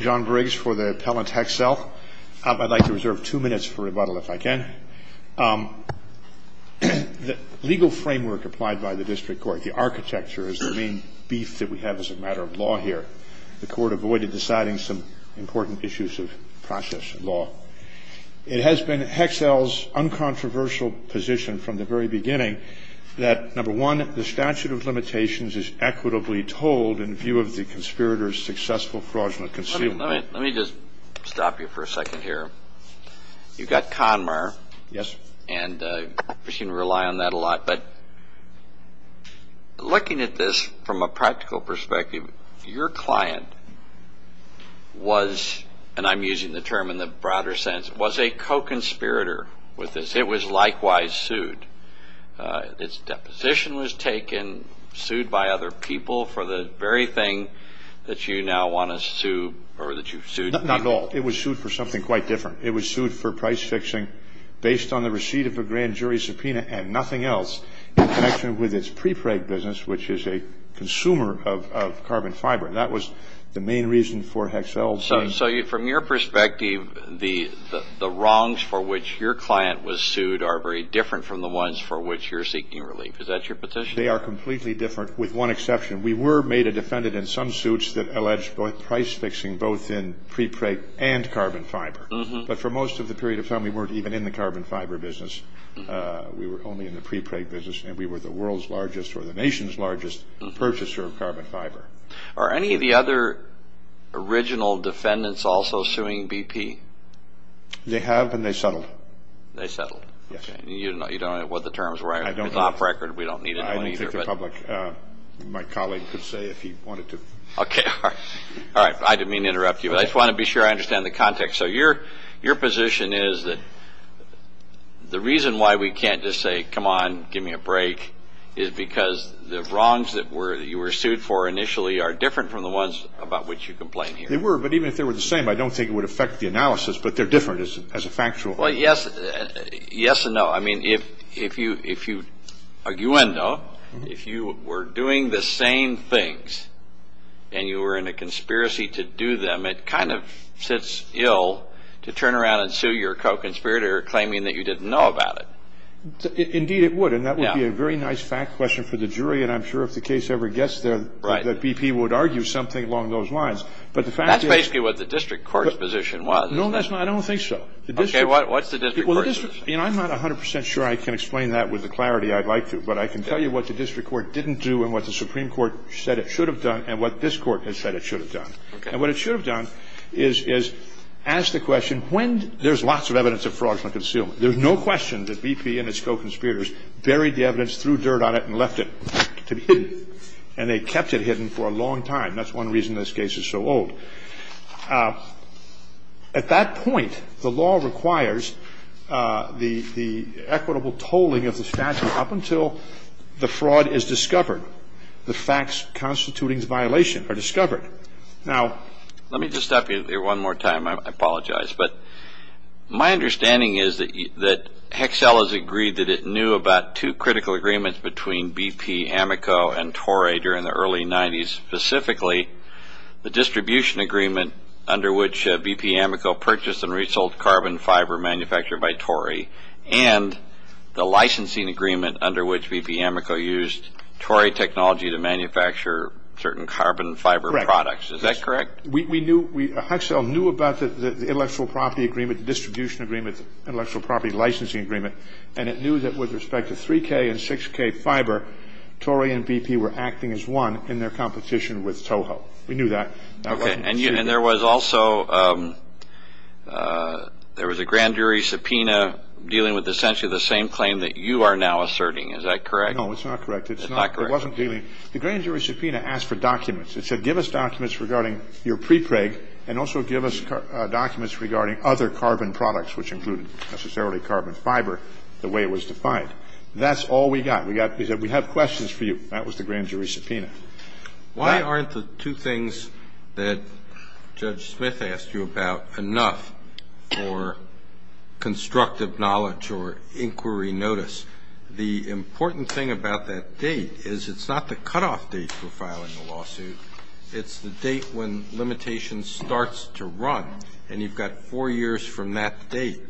John Briggs for the appellant Hexcel. I'd like to reserve two minutes for rebuttal if I can. The legal framework applied by the district court, the architecture, is the main beef that we have as a matter of law here. The court avoided deciding some important issues of process and law. It has been Hexcel's uncontroversial position from the very beginning that, number one, the statute of limitations is equitably told in view of the conspirator's successful fraudulent concealment. Let me just stop you for a second here. You've got Conmar. Yes. And you seem to rely on that a lot. But looking at this from a practical perspective, your client was, and I'm using the term in the broader sense, was a co-conspirator with this. It was likewise sued. Its deposition was taken, sued by other people for the very thing that you now want to sue or that you've sued. Not at all. It was sued for something quite different. It was sued for price fixing based on the receipt of a grand jury subpoena and nothing else in connection with its prepreg business, which is a consumer of carbon fiber. That was the main reason for Hexcel's. So from your perspective, the wrongs for which your client was sued are very different from the ones for which you're seeking relief. Is that your petition? They are completely different, with one exception. We were made a defendant in some suits that alleged price fixing both in prepreg and carbon fiber. But for most of the period of time, we weren't even in the carbon fiber business. We were only in the prepreg business, and we were the world's largest or the nation's largest purchaser of carbon fiber. Are any of the other original defendants also suing BP? They have, and they settled. They settled. Yes. You don't know what the terms were. I don't know. It's off record. We don't need to know either. I don't think the public, my colleague could say if he wanted to. Okay. All right. I didn't mean to interrupt you, but I just want to be sure I understand the context. So your position is that the reason why we can't just say, come on, give me a break, is because the wrongs that you were sued for initially are different from the ones about which you complain here. They were, but even if they were the same, I don't think it would affect the analysis, but they're different as a factual. Well, yes and no. I mean, if you were doing the same things and you were in a conspiracy to do them, it kind of sits ill to turn around and sue your co-conspirator claiming that you didn't know about it. Indeed it would, and that would be a very nice fact question for the jury, and I'm sure if the case ever gets there that BP would argue something along those lines. That's basically what the district court's position was. No, that's not. I don't think so. Okay. What's the district court's position? I'm not 100 percent sure I can explain that with the clarity I'd like to, but I can tell you what the district court didn't do and what the Supreme Court said it should have done and what this court has said it should have done. And what it should have done is ask the question, there's lots of evidence of fraudulent concealment. There's no question that BP and its co-conspirators buried the evidence, threw dirt on it, and left it to be hidden. And they kept it hidden for a long time. That's one reason this case is so old. At that point, the law requires the equitable tolling of the statute up until the fraud is discovered, the facts constituting the violation are discovered. Let me just stop you here one more time. I apologize. But my understanding is that Hexel has agreed that it knew about two critical agreements between BP, Amico, and Torrey during the early 90s, specifically the distribution agreement under which BP, Amico purchased and resold carbon fiber manufactured by Torrey and the licensing agreement under which BP, Amico used Torrey technology to manufacture certain carbon fiber products. Is that correct? We knew, Hexel knew about the intellectual property agreement, the distribution agreement, intellectual property licensing agreement, and it knew that with respect to 3K and 6K fiber, Torrey and BP were acting as one in their competition with Toho. We knew that. Okay. And there was also, there was a grand jury subpoena dealing with essentially the same claim that you are now asserting. Is that correct? No, it's not correct. It's not. It wasn't dealing. The grand jury subpoena asked for documents. It said give us documents regarding your prepreg and also give us documents regarding other carbon products, which included necessarily carbon fiber the way it was defined. That's all we got. We got, we said we have questions for you. That was the grand jury subpoena. Why aren't the two things that Judge Smith asked you about enough for constructive knowledge or inquiry notice? The important thing about that date is it's not the cutoff date for filing a lawsuit. It's the date when limitation starts to run. And you've got four years from that date.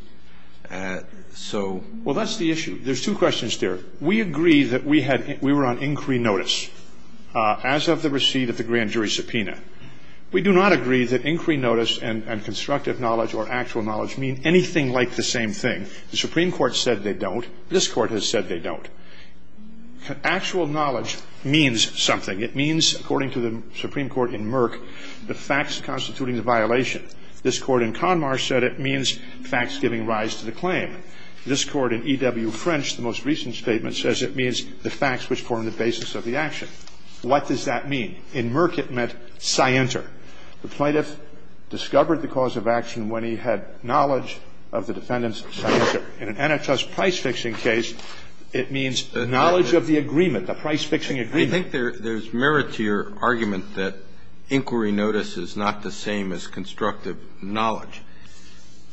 So. Well, that's the issue. There's two questions there. We agree that we had, we were on inquiry notice as of the receipt of the grand jury subpoena. We do not agree that inquiry notice and constructive knowledge or actual knowledge mean anything like the same thing. The Supreme Court said they don't. This Court has said they don't. Actual knowledge means something. It means, according to the Supreme Court in Merck, the facts constituting the violation. This Court in Conmar said it means facts giving rise to the claim. This Court in E.W. French, the most recent statement, says it means the facts which form the basis of the action. What does that mean? In Merck it meant scienter. The plaintiff discovered the cause of action when he had knowledge of the defendant's scienter. In an antitrust price-fixing case, it means knowledge of the agreement, the price-fixing agreement. I think there's merit to your argument that inquiry notice is not the same as constructive knowledge.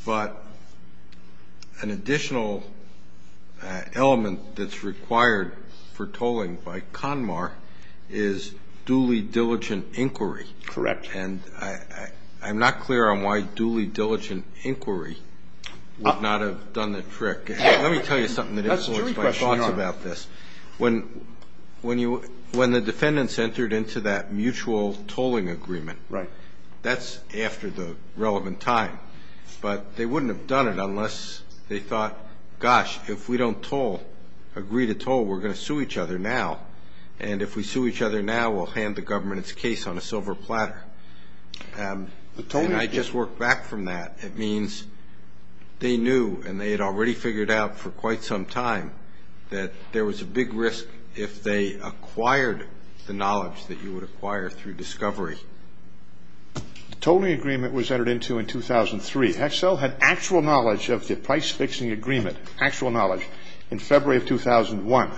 But an additional element that's required for tolling by Conmar is duly diligent inquiry. Correct. And I'm not clear on why duly diligent inquiry would not have done the trick. Let me tell you something that influenced my thoughts about this. When the defendants entered into that mutual tolling agreement, that's after the relevant time. But they wouldn't have done it unless they thought, gosh, if we don't toll, agree to toll, we're going to sue each other now. And if we sue each other now, we'll hand the government its case on a silver platter. And I just work back from that. It means they knew, and they had already figured out for quite some time, that there was a big risk if they acquired the knowledge that you would acquire through discovery. The tolling agreement was entered into in 2003. Hexel had actual knowledge of the price-fixing agreement, actual knowledge, in February of 2001.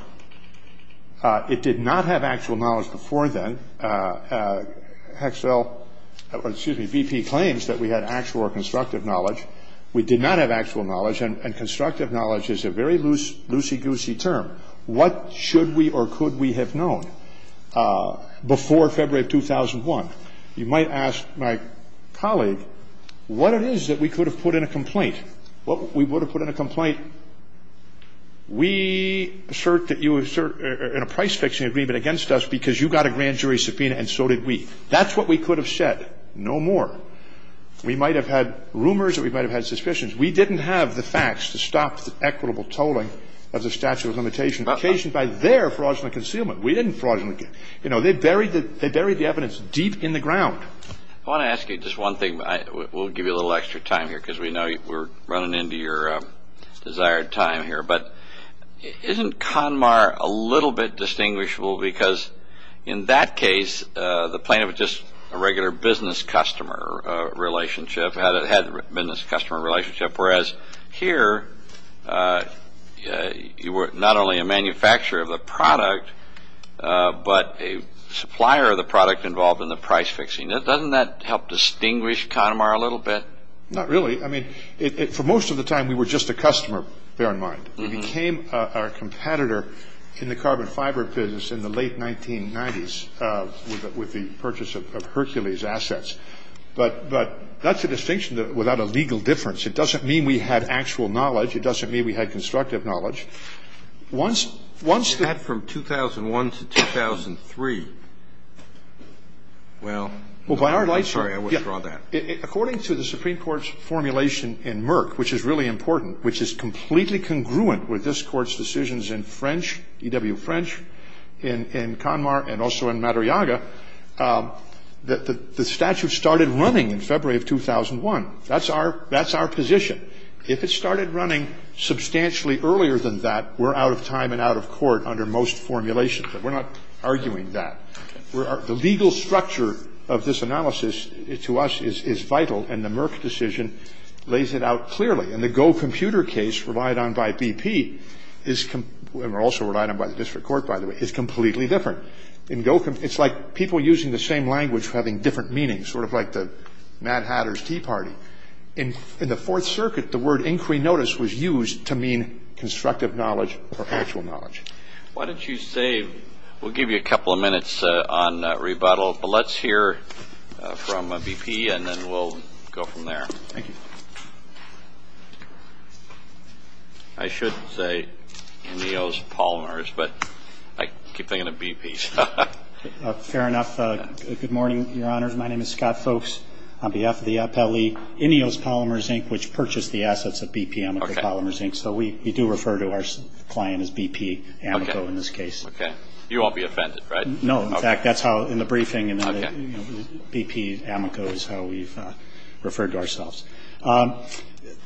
It did not have actual knowledge before then. Hexel, excuse me, BP claims that we had actual or constructive knowledge. We did not have actual knowledge. And constructive knowledge is a very loose, loosey-goosey term. What should we or could we have known before February of 2001? You might ask my colleague what it is that we could have put in a complaint. What we would have put in a complaint, we assert that you assert in a price-fixing agreement against us because you got a grand jury subpoena and so did we. That's what we could have said. No more. We might have had rumors or we might have had suspicions. We didn't have the facts to stop the equitable tolling of the statute of limitations occasioned by their fraudulent concealment. We didn't fraudulently conceal. They buried the evidence deep in the ground. I want to ask you just one thing. We'll give you a little extra time here because we know we're running into your desired time here. But isn't CONMAR a little bit distinguishable because, in that case, the plaintiff was just a regular business customer relationship, had a business customer relationship, whereas here you were not only a manufacturer of the product but a supplier of the product involved in the price-fixing. Doesn't that help distinguish CONMAR a little bit? Not really. I mean, for most of the time we were just a customer, bear in mind. We became our competitor in the carbon fiber business in the late 1990s with the purchase of Hercules assets. But that's a distinction without a legal difference. It doesn't mean we had actual knowledge. It doesn't mean we had constructive knowledge. Once the ---- Had from 2001 to 2003. Well, I'm sorry. I will draw that. According to the Supreme Court's formulation in Merck, which is really important, which is completely congruent with this Court's decisions in French, E.W. French, in CONMAR and also in Madriaga, the statute started running in February of 2001. That's our position. If it started running substantially earlier than that, we're out of time and out of court under most formulations. But we're not arguing that. The legal structure of this analysis to us is vital, and the Merck decision lays it out clearly. And the Go Computer case relied on by BP is ---- and also relied on by the district court, by the way, is completely different. In Go ---- It's like people using the same language having different meanings, sort of like the Mad Hatter's Tea Party. In the Fourth Circuit, the word inquiry notice was used to mean constructive knowledge or actual knowledge. Why don't you say ---- We'll give you a couple of minutes on rebuttal, but let's hear from BP, and then we'll go from there. Thank you. I should say Ineos Polymers, but I keep thinking of BP. Fair enough. Good morning, Your Honors. My name is Scott Folks. On behalf of the Appellee, Ineos Polymers, Inc., which purchased the assets of BP Amico Polymers, Inc. So we do refer to our client as BP Amico in this case. Okay. You won't be offended, right? No. In fact, that's how in the briefing, BP Amico is how we've referred to ourselves.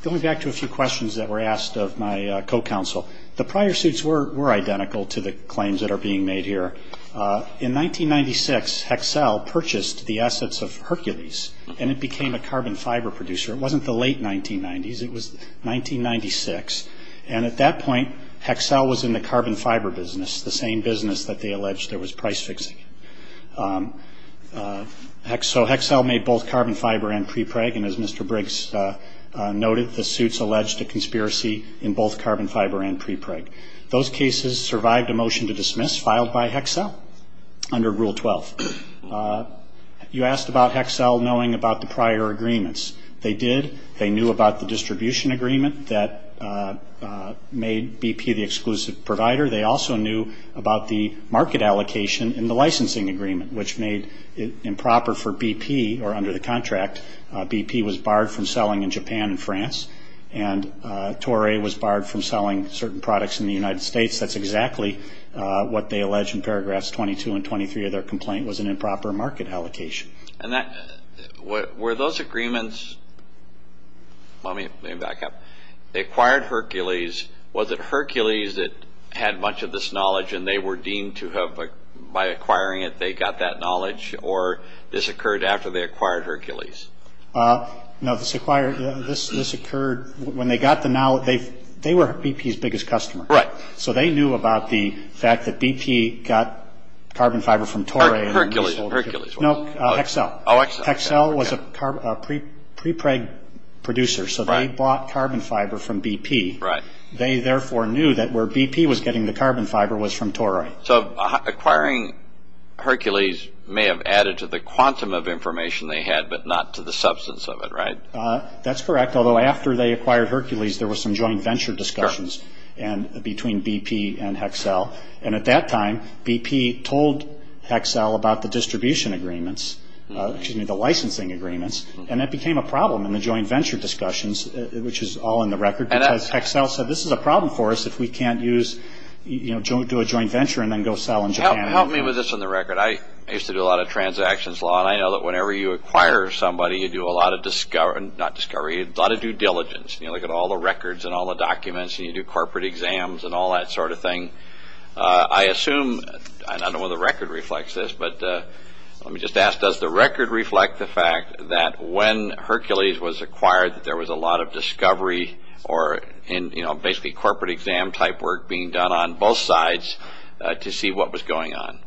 Going back to a few questions that were asked of my co-counsel, the prior suits were identical to the claims that are being made here. In 1996, Hexcel purchased the assets of Hercules, and it became a carbon fiber producer. It wasn't the late 1990s. It was 1996. And at that point, Hexcel was in the carbon fiber business, the same business that they alleged there was price fixing. So Hexcel made both carbon fiber and prepreg. And as Mr. Briggs noted, the suits alleged a conspiracy in both carbon fiber and prepreg. Those cases survived a motion to dismiss filed by Hexcel under Rule 12. You asked about Hexcel knowing about the prior agreements. They did. They knew about the distribution agreement that made BP the exclusive provider. They also knew about the market allocation in the licensing agreement, which made it improper for BP or under the contract. BP was barred from selling in Japan and France, and Torre was barred from selling certain products in the United States. That's exactly what they allege in paragraphs 22 and 23 of their complaint was an improper market allocation. And were those agreements – let me back up. They acquired Hercules. Was it Hercules that had much of this knowledge, and they were deemed to have – by acquiring it, they got that knowledge? Or this occurred after they acquired Hercules? No, this occurred when they got the – they were BP's biggest customer. Right. So they knew about the fact that BP got carbon fiber from Torre. Hercules. No, Hexcel. Oh, Hexcel. Hexcel was a prepreg producer, so they bought carbon fiber from BP. Right. They therefore knew that where BP was getting the carbon fiber was from Torre. So acquiring Hercules may have added to the quantum of information they had, but not to the substance of it, right? That's correct, although after they acquired Hercules, there was some joint venture discussions between BP and Hexcel. And at that time, BP told Hexcel about the distribution agreements – excuse me, the licensing agreements. And that became a problem in the joint venture discussions, which is all in the record, because Hexcel said this is a problem for us if we can't do a joint venture and then go sell in Japan. Help me with this on the record. I used to do a lot of transactions law, and I know that whenever you acquire somebody, you do a lot of – not discovery – a lot of due diligence. You look at all the records and all the documents, and you do corporate exams and all that sort of thing. I assume – and I don't know whether the record reflects this, but let me just ask, does the record reflect the fact that when Hercules was acquired that there was a lot of discovery or basically corporate exam-type work being done on both sides to see what was going on?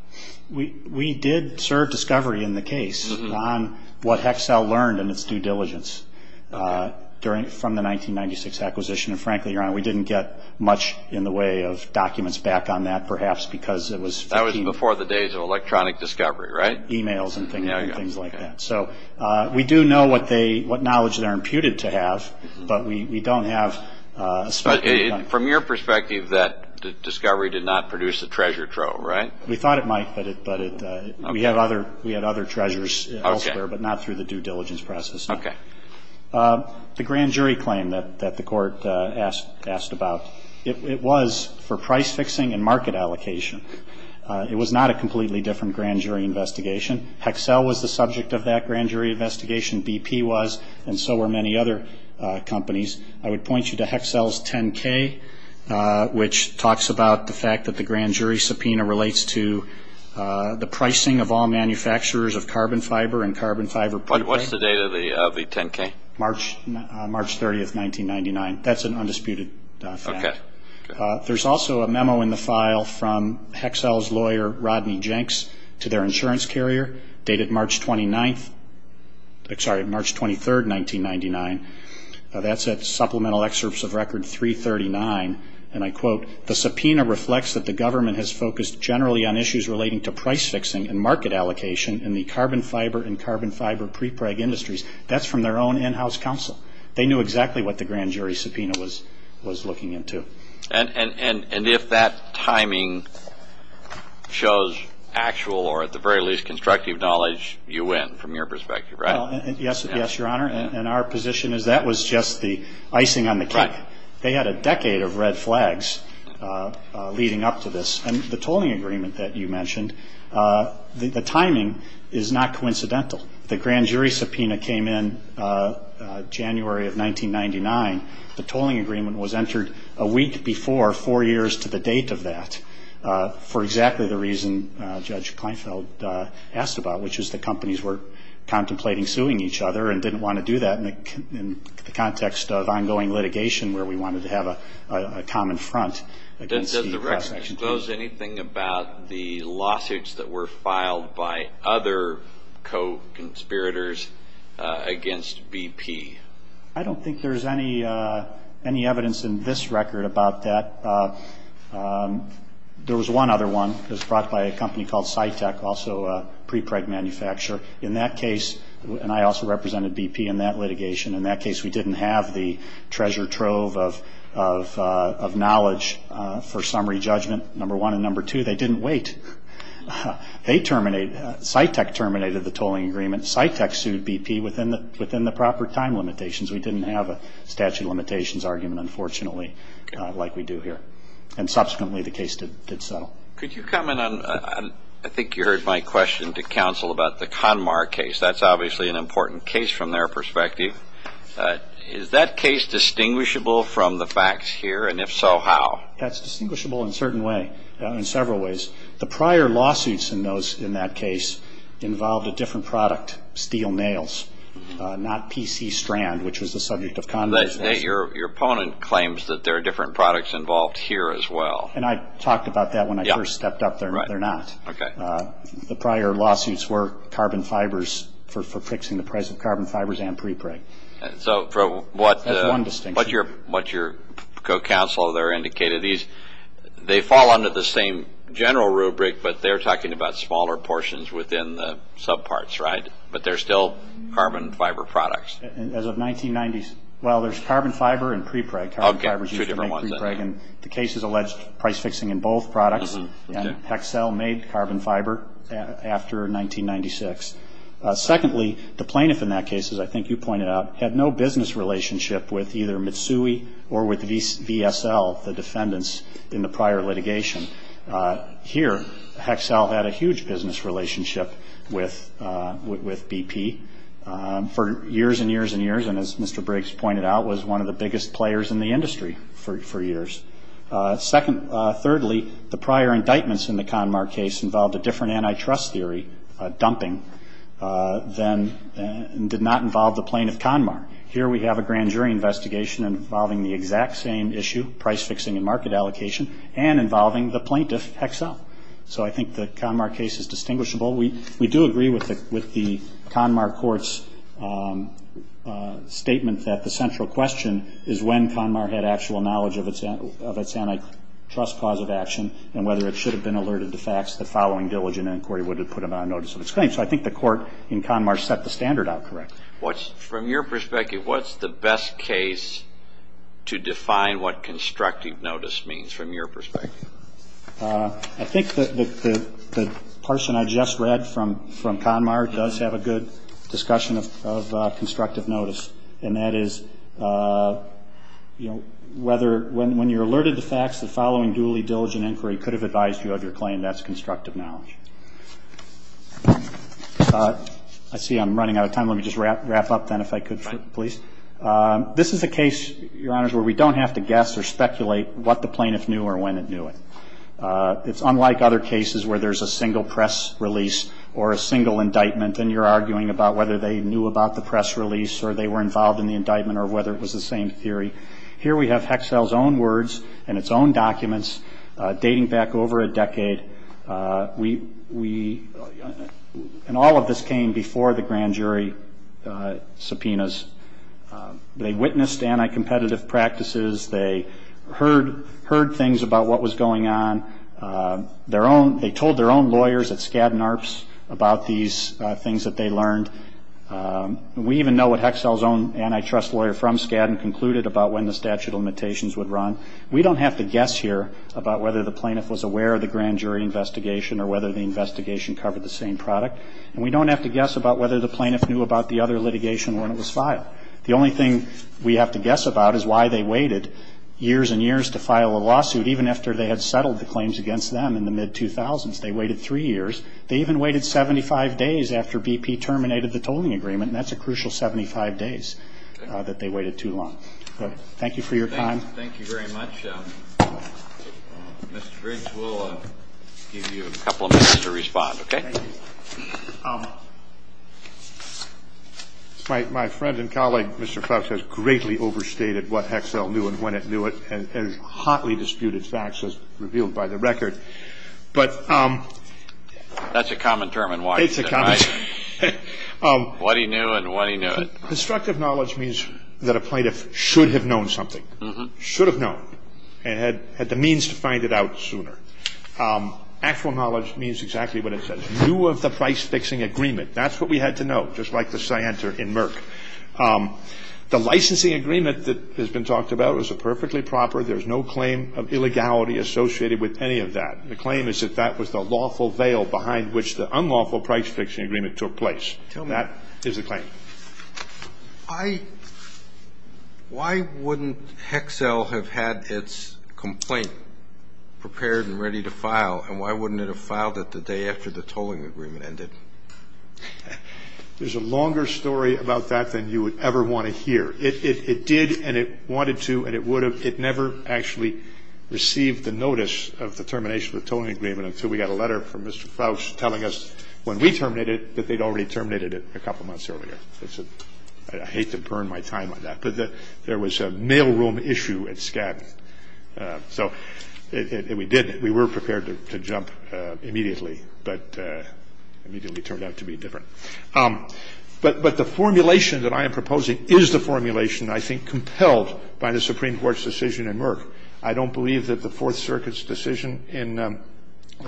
We did serve discovery in the case on what Hexcel learned in its due diligence from the 1996 acquisition. And frankly, Your Honor, we didn't get much in the way of documents back on that perhaps because it was – That was before the days of electronic discovery, right? E-mails and things like that. So we do know what knowledge they're imputed to have, but we don't have – From your perspective, that discovery did not produce a treasure trove, right? We thought it might, but we had other treasures elsewhere, but not through the due diligence process. Okay. The grand jury claim that the court asked about, it was for price fixing and market allocation. It was not a completely different grand jury investigation. Hexcel was the subject of that grand jury investigation. BP was, and so were many other companies. I would point you to Hexcel's 10-K, which talks about the fact that the grand jury subpoena relates to the pricing of all manufacturers of carbon fiber and carbon fiber- What's the date of the 10-K? March 30th, 1999. That's an undisputed fact. Okay. There's also a memo in the file from Hexcel's lawyer, Rodney Jenks, to their insurance carrier dated March 29th – sorry, March 23rd, 1999. That's at Supplemental Excerpts of Record 339, and I quote, The subpoena reflects that the government has focused generally on issues relating to price fixing and market allocation in the carbon fiber and carbon fiber prepreg industries. That's from their own in-house counsel. They knew exactly what the grand jury subpoena was looking into. And if that timing shows actual or at the very least constructive knowledge, you win from your perspective, right? Yes, Your Honor, and our position is that was just the icing on the cake. They had a decade of red flags leading up to this. And the tolling agreement that you mentioned, the timing is not coincidental. The grand jury subpoena came in January of 1999. The tolling agreement was entered a week before, four years to the date of that, for exactly the reason Judge Kleinfeld asked about, which is that companies were contemplating suing each other and didn't want to do that in the context of ongoing litigation where we wanted to have a common front. Does the record disclose anything about the lawsuits that were filed by other co-conspirators against BP? I don't think there's any evidence in this record about that. There was one other one. It was brought by a company called Cytec, also a prepreg manufacturer. In that case, and I also represented BP in that litigation, in that case we didn't have the treasure trove of knowledge for summary judgment, number one. And number two, they didn't wait. Cytec terminated the tolling agreement. Cytec sued BP within the proper time limitations. We didn't have a statute of limitations argument, unfortunately, like we do here. And subsequently the case did settle. Could you comment on, I think you heard my question to counsel about the CONMAR case. That's obviously an important case from their perspective. Is that case distinguishable from the facts here, and if so, how? That's distinguishable in a certain way, in several ways. The prior lawsuits in that case involved a different product, steel nails, not PC strand, which was the subject of CONMAR's case. Your opponent claims that there are different products involved here as well. And I talked about that when I first stepped up there. They're not. The prior lawsuits were carbon fibers for fixing the price of carbon fibers and prepreg. So from what your co-counsel there indicated, they fall under the same general rubric, but they're talking about smaller portions within the subparts, right? But they're still carbon fiber products. As of 1990, well, there's carbon fiber and prepreg. Carbon fibers used to make prepreg. And the case has alleged price fixing in both products. And Hexcel made carbon fiber after 1996. Secondly, the plaintiff in that case, as I think you pointed out, had no business relationship with either Mitsui or with VSL, the defendants in the prior litigation. Here, Hexcel had a huge business relationship with BP for years and years and years, and as Mr. Briggs pointed out, was one of the biggest players in the industry for years. Thirdly, the prior indictments in the Conmar case involved a different antitrust theory, dumping, and did not involve the plaintiff, Conmar. Here we have a grand jury investigation involving the exact same issue, price fixing and market allocation, and involving the plaintiff, Hexcel. So I think the Conmar case is distinguishable. We do agree with the Conmar court's statement that the central question is when Conmar had actual knowledge of its antitrust cause of action and whether it should have been alerted to facts the following diligent inquiry would have put it on notice of its claim. So I think the court in Conmar set the standard out correctly. From your perspective, what's the best case to define what constructive notice means from your perspective? I think the person I just read from Conmar does have a good discussion of constructive notice, and that is whether when you're alerted to facts, the following duly diligent inquiry could have advised you of your claim. That's constructive knowledge. I see I'm running out of time. Let me just wrap up then if I could, please. This is a case, Your Honors, where we don't have to guess or speculate what the plaintiff knew or when it knew it. It's unlike other cases where there's a single press release or a single indictment and you're arguing about whether they knew about the press release or they were involved in the indictment or whether it was the same theory. Here we have Hexcel's own words and its own documents dating back over a decade. And all of this came before the grand jury subpoenas. They witnessed anti-competitive practices. They heard things about what was going on. They told their own lawyers at Skadden Arps about these things that they learned. We even know what Hexcel's own antitrust lawyer from Skadden concluded about when the statute of limitations would run. We don't have to guess here about whether the plaintiff was aware of the grand jury investigation or whether the investigation covered the same product. And we don't have to guess about whether the plaintiff knew about the other litigation when it was filed. The only thing we have to guess about is why they waited years and years to file a lawsuit, even after they had settled the claims against them in the mid-2000s. They waited three years. They even waited 75 days after BP terminated the tolling agreement, and that's a crucial 75 days that they waited too long. Thank you for your time. Thank you very much. Mr. Griggs, we'll give you a couple of minutes to respond, okay? Thank you. My friend and colleague, Mr. Crouch, has greatly overstated what Hexcel knew and when it knew it and has hotly disputed facts as revealed by the record. That's a common term in Washington, right? It's a common term. What he knew and when he knew it. Constructive knowledge means that a plaintiff should have known something, should have known, and had the means to find it out sooner. Actual knowledge means exactly what it says. Knew of the price-fixing agreement. That's what we had to know, just like the scienter in Merck. The licensing agreement that has been talked about is perfectly proper. There's no claim of illegality associated with any of that. The claim is that that was the lawful veil behind which the unlawful price-fixing agreement took place. That is the claim. Why wouldn't Hexcel have had its complaint prepared and ready to file? And why wouldn't it have filed it the day after the tolling agreement ended? There's a longer story about that than you would ever want to hear. It did and it wanted to and it would have. It never actually received the notice of the termination of the tolling agreement until we got a letter from Mr. Fauch telling us when we terminated it, that they'd already terminated it a couple months earlier. I hate to burn my time on that, but there was a mailroom issue at Skadden. So we did it. We were prepared to jump immediately, but immediately turned out to be different. But the formulation that I am proposing is the formulation, I think, compelled by the Supreme Court's decision in Merck. I don't believe that the Fourth Circuit's decision in the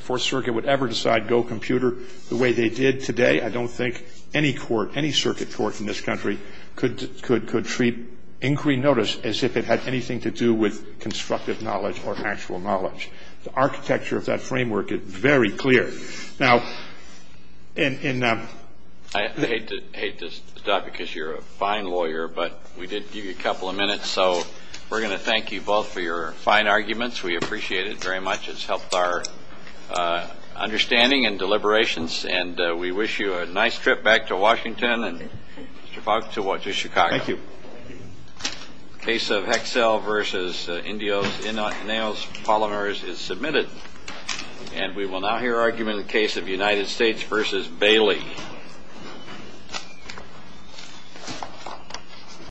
Fourth Circuit would ever decide go computer the way they did today. I don't think any court, any circuit court in this country, could treat inquiry notice as if it had anything to do with constructive knowledge or actual knowledge. The architecture of that framework is very clear. Now, in the— I hate to stop because you're a fine lawyer, but we did give you a couple of minutes. So we're going to thank you both for your fine arguments. We appreciate it very much. It's helped our understanding and deliberations. And we wish you a nice trip back to Washington and, Mr. Fauch, to Chicago. Thank you. Case of Hexel v. Indios, Innos, Polliners is submitted. And we will now hear argument in the case of United States v. Bailey.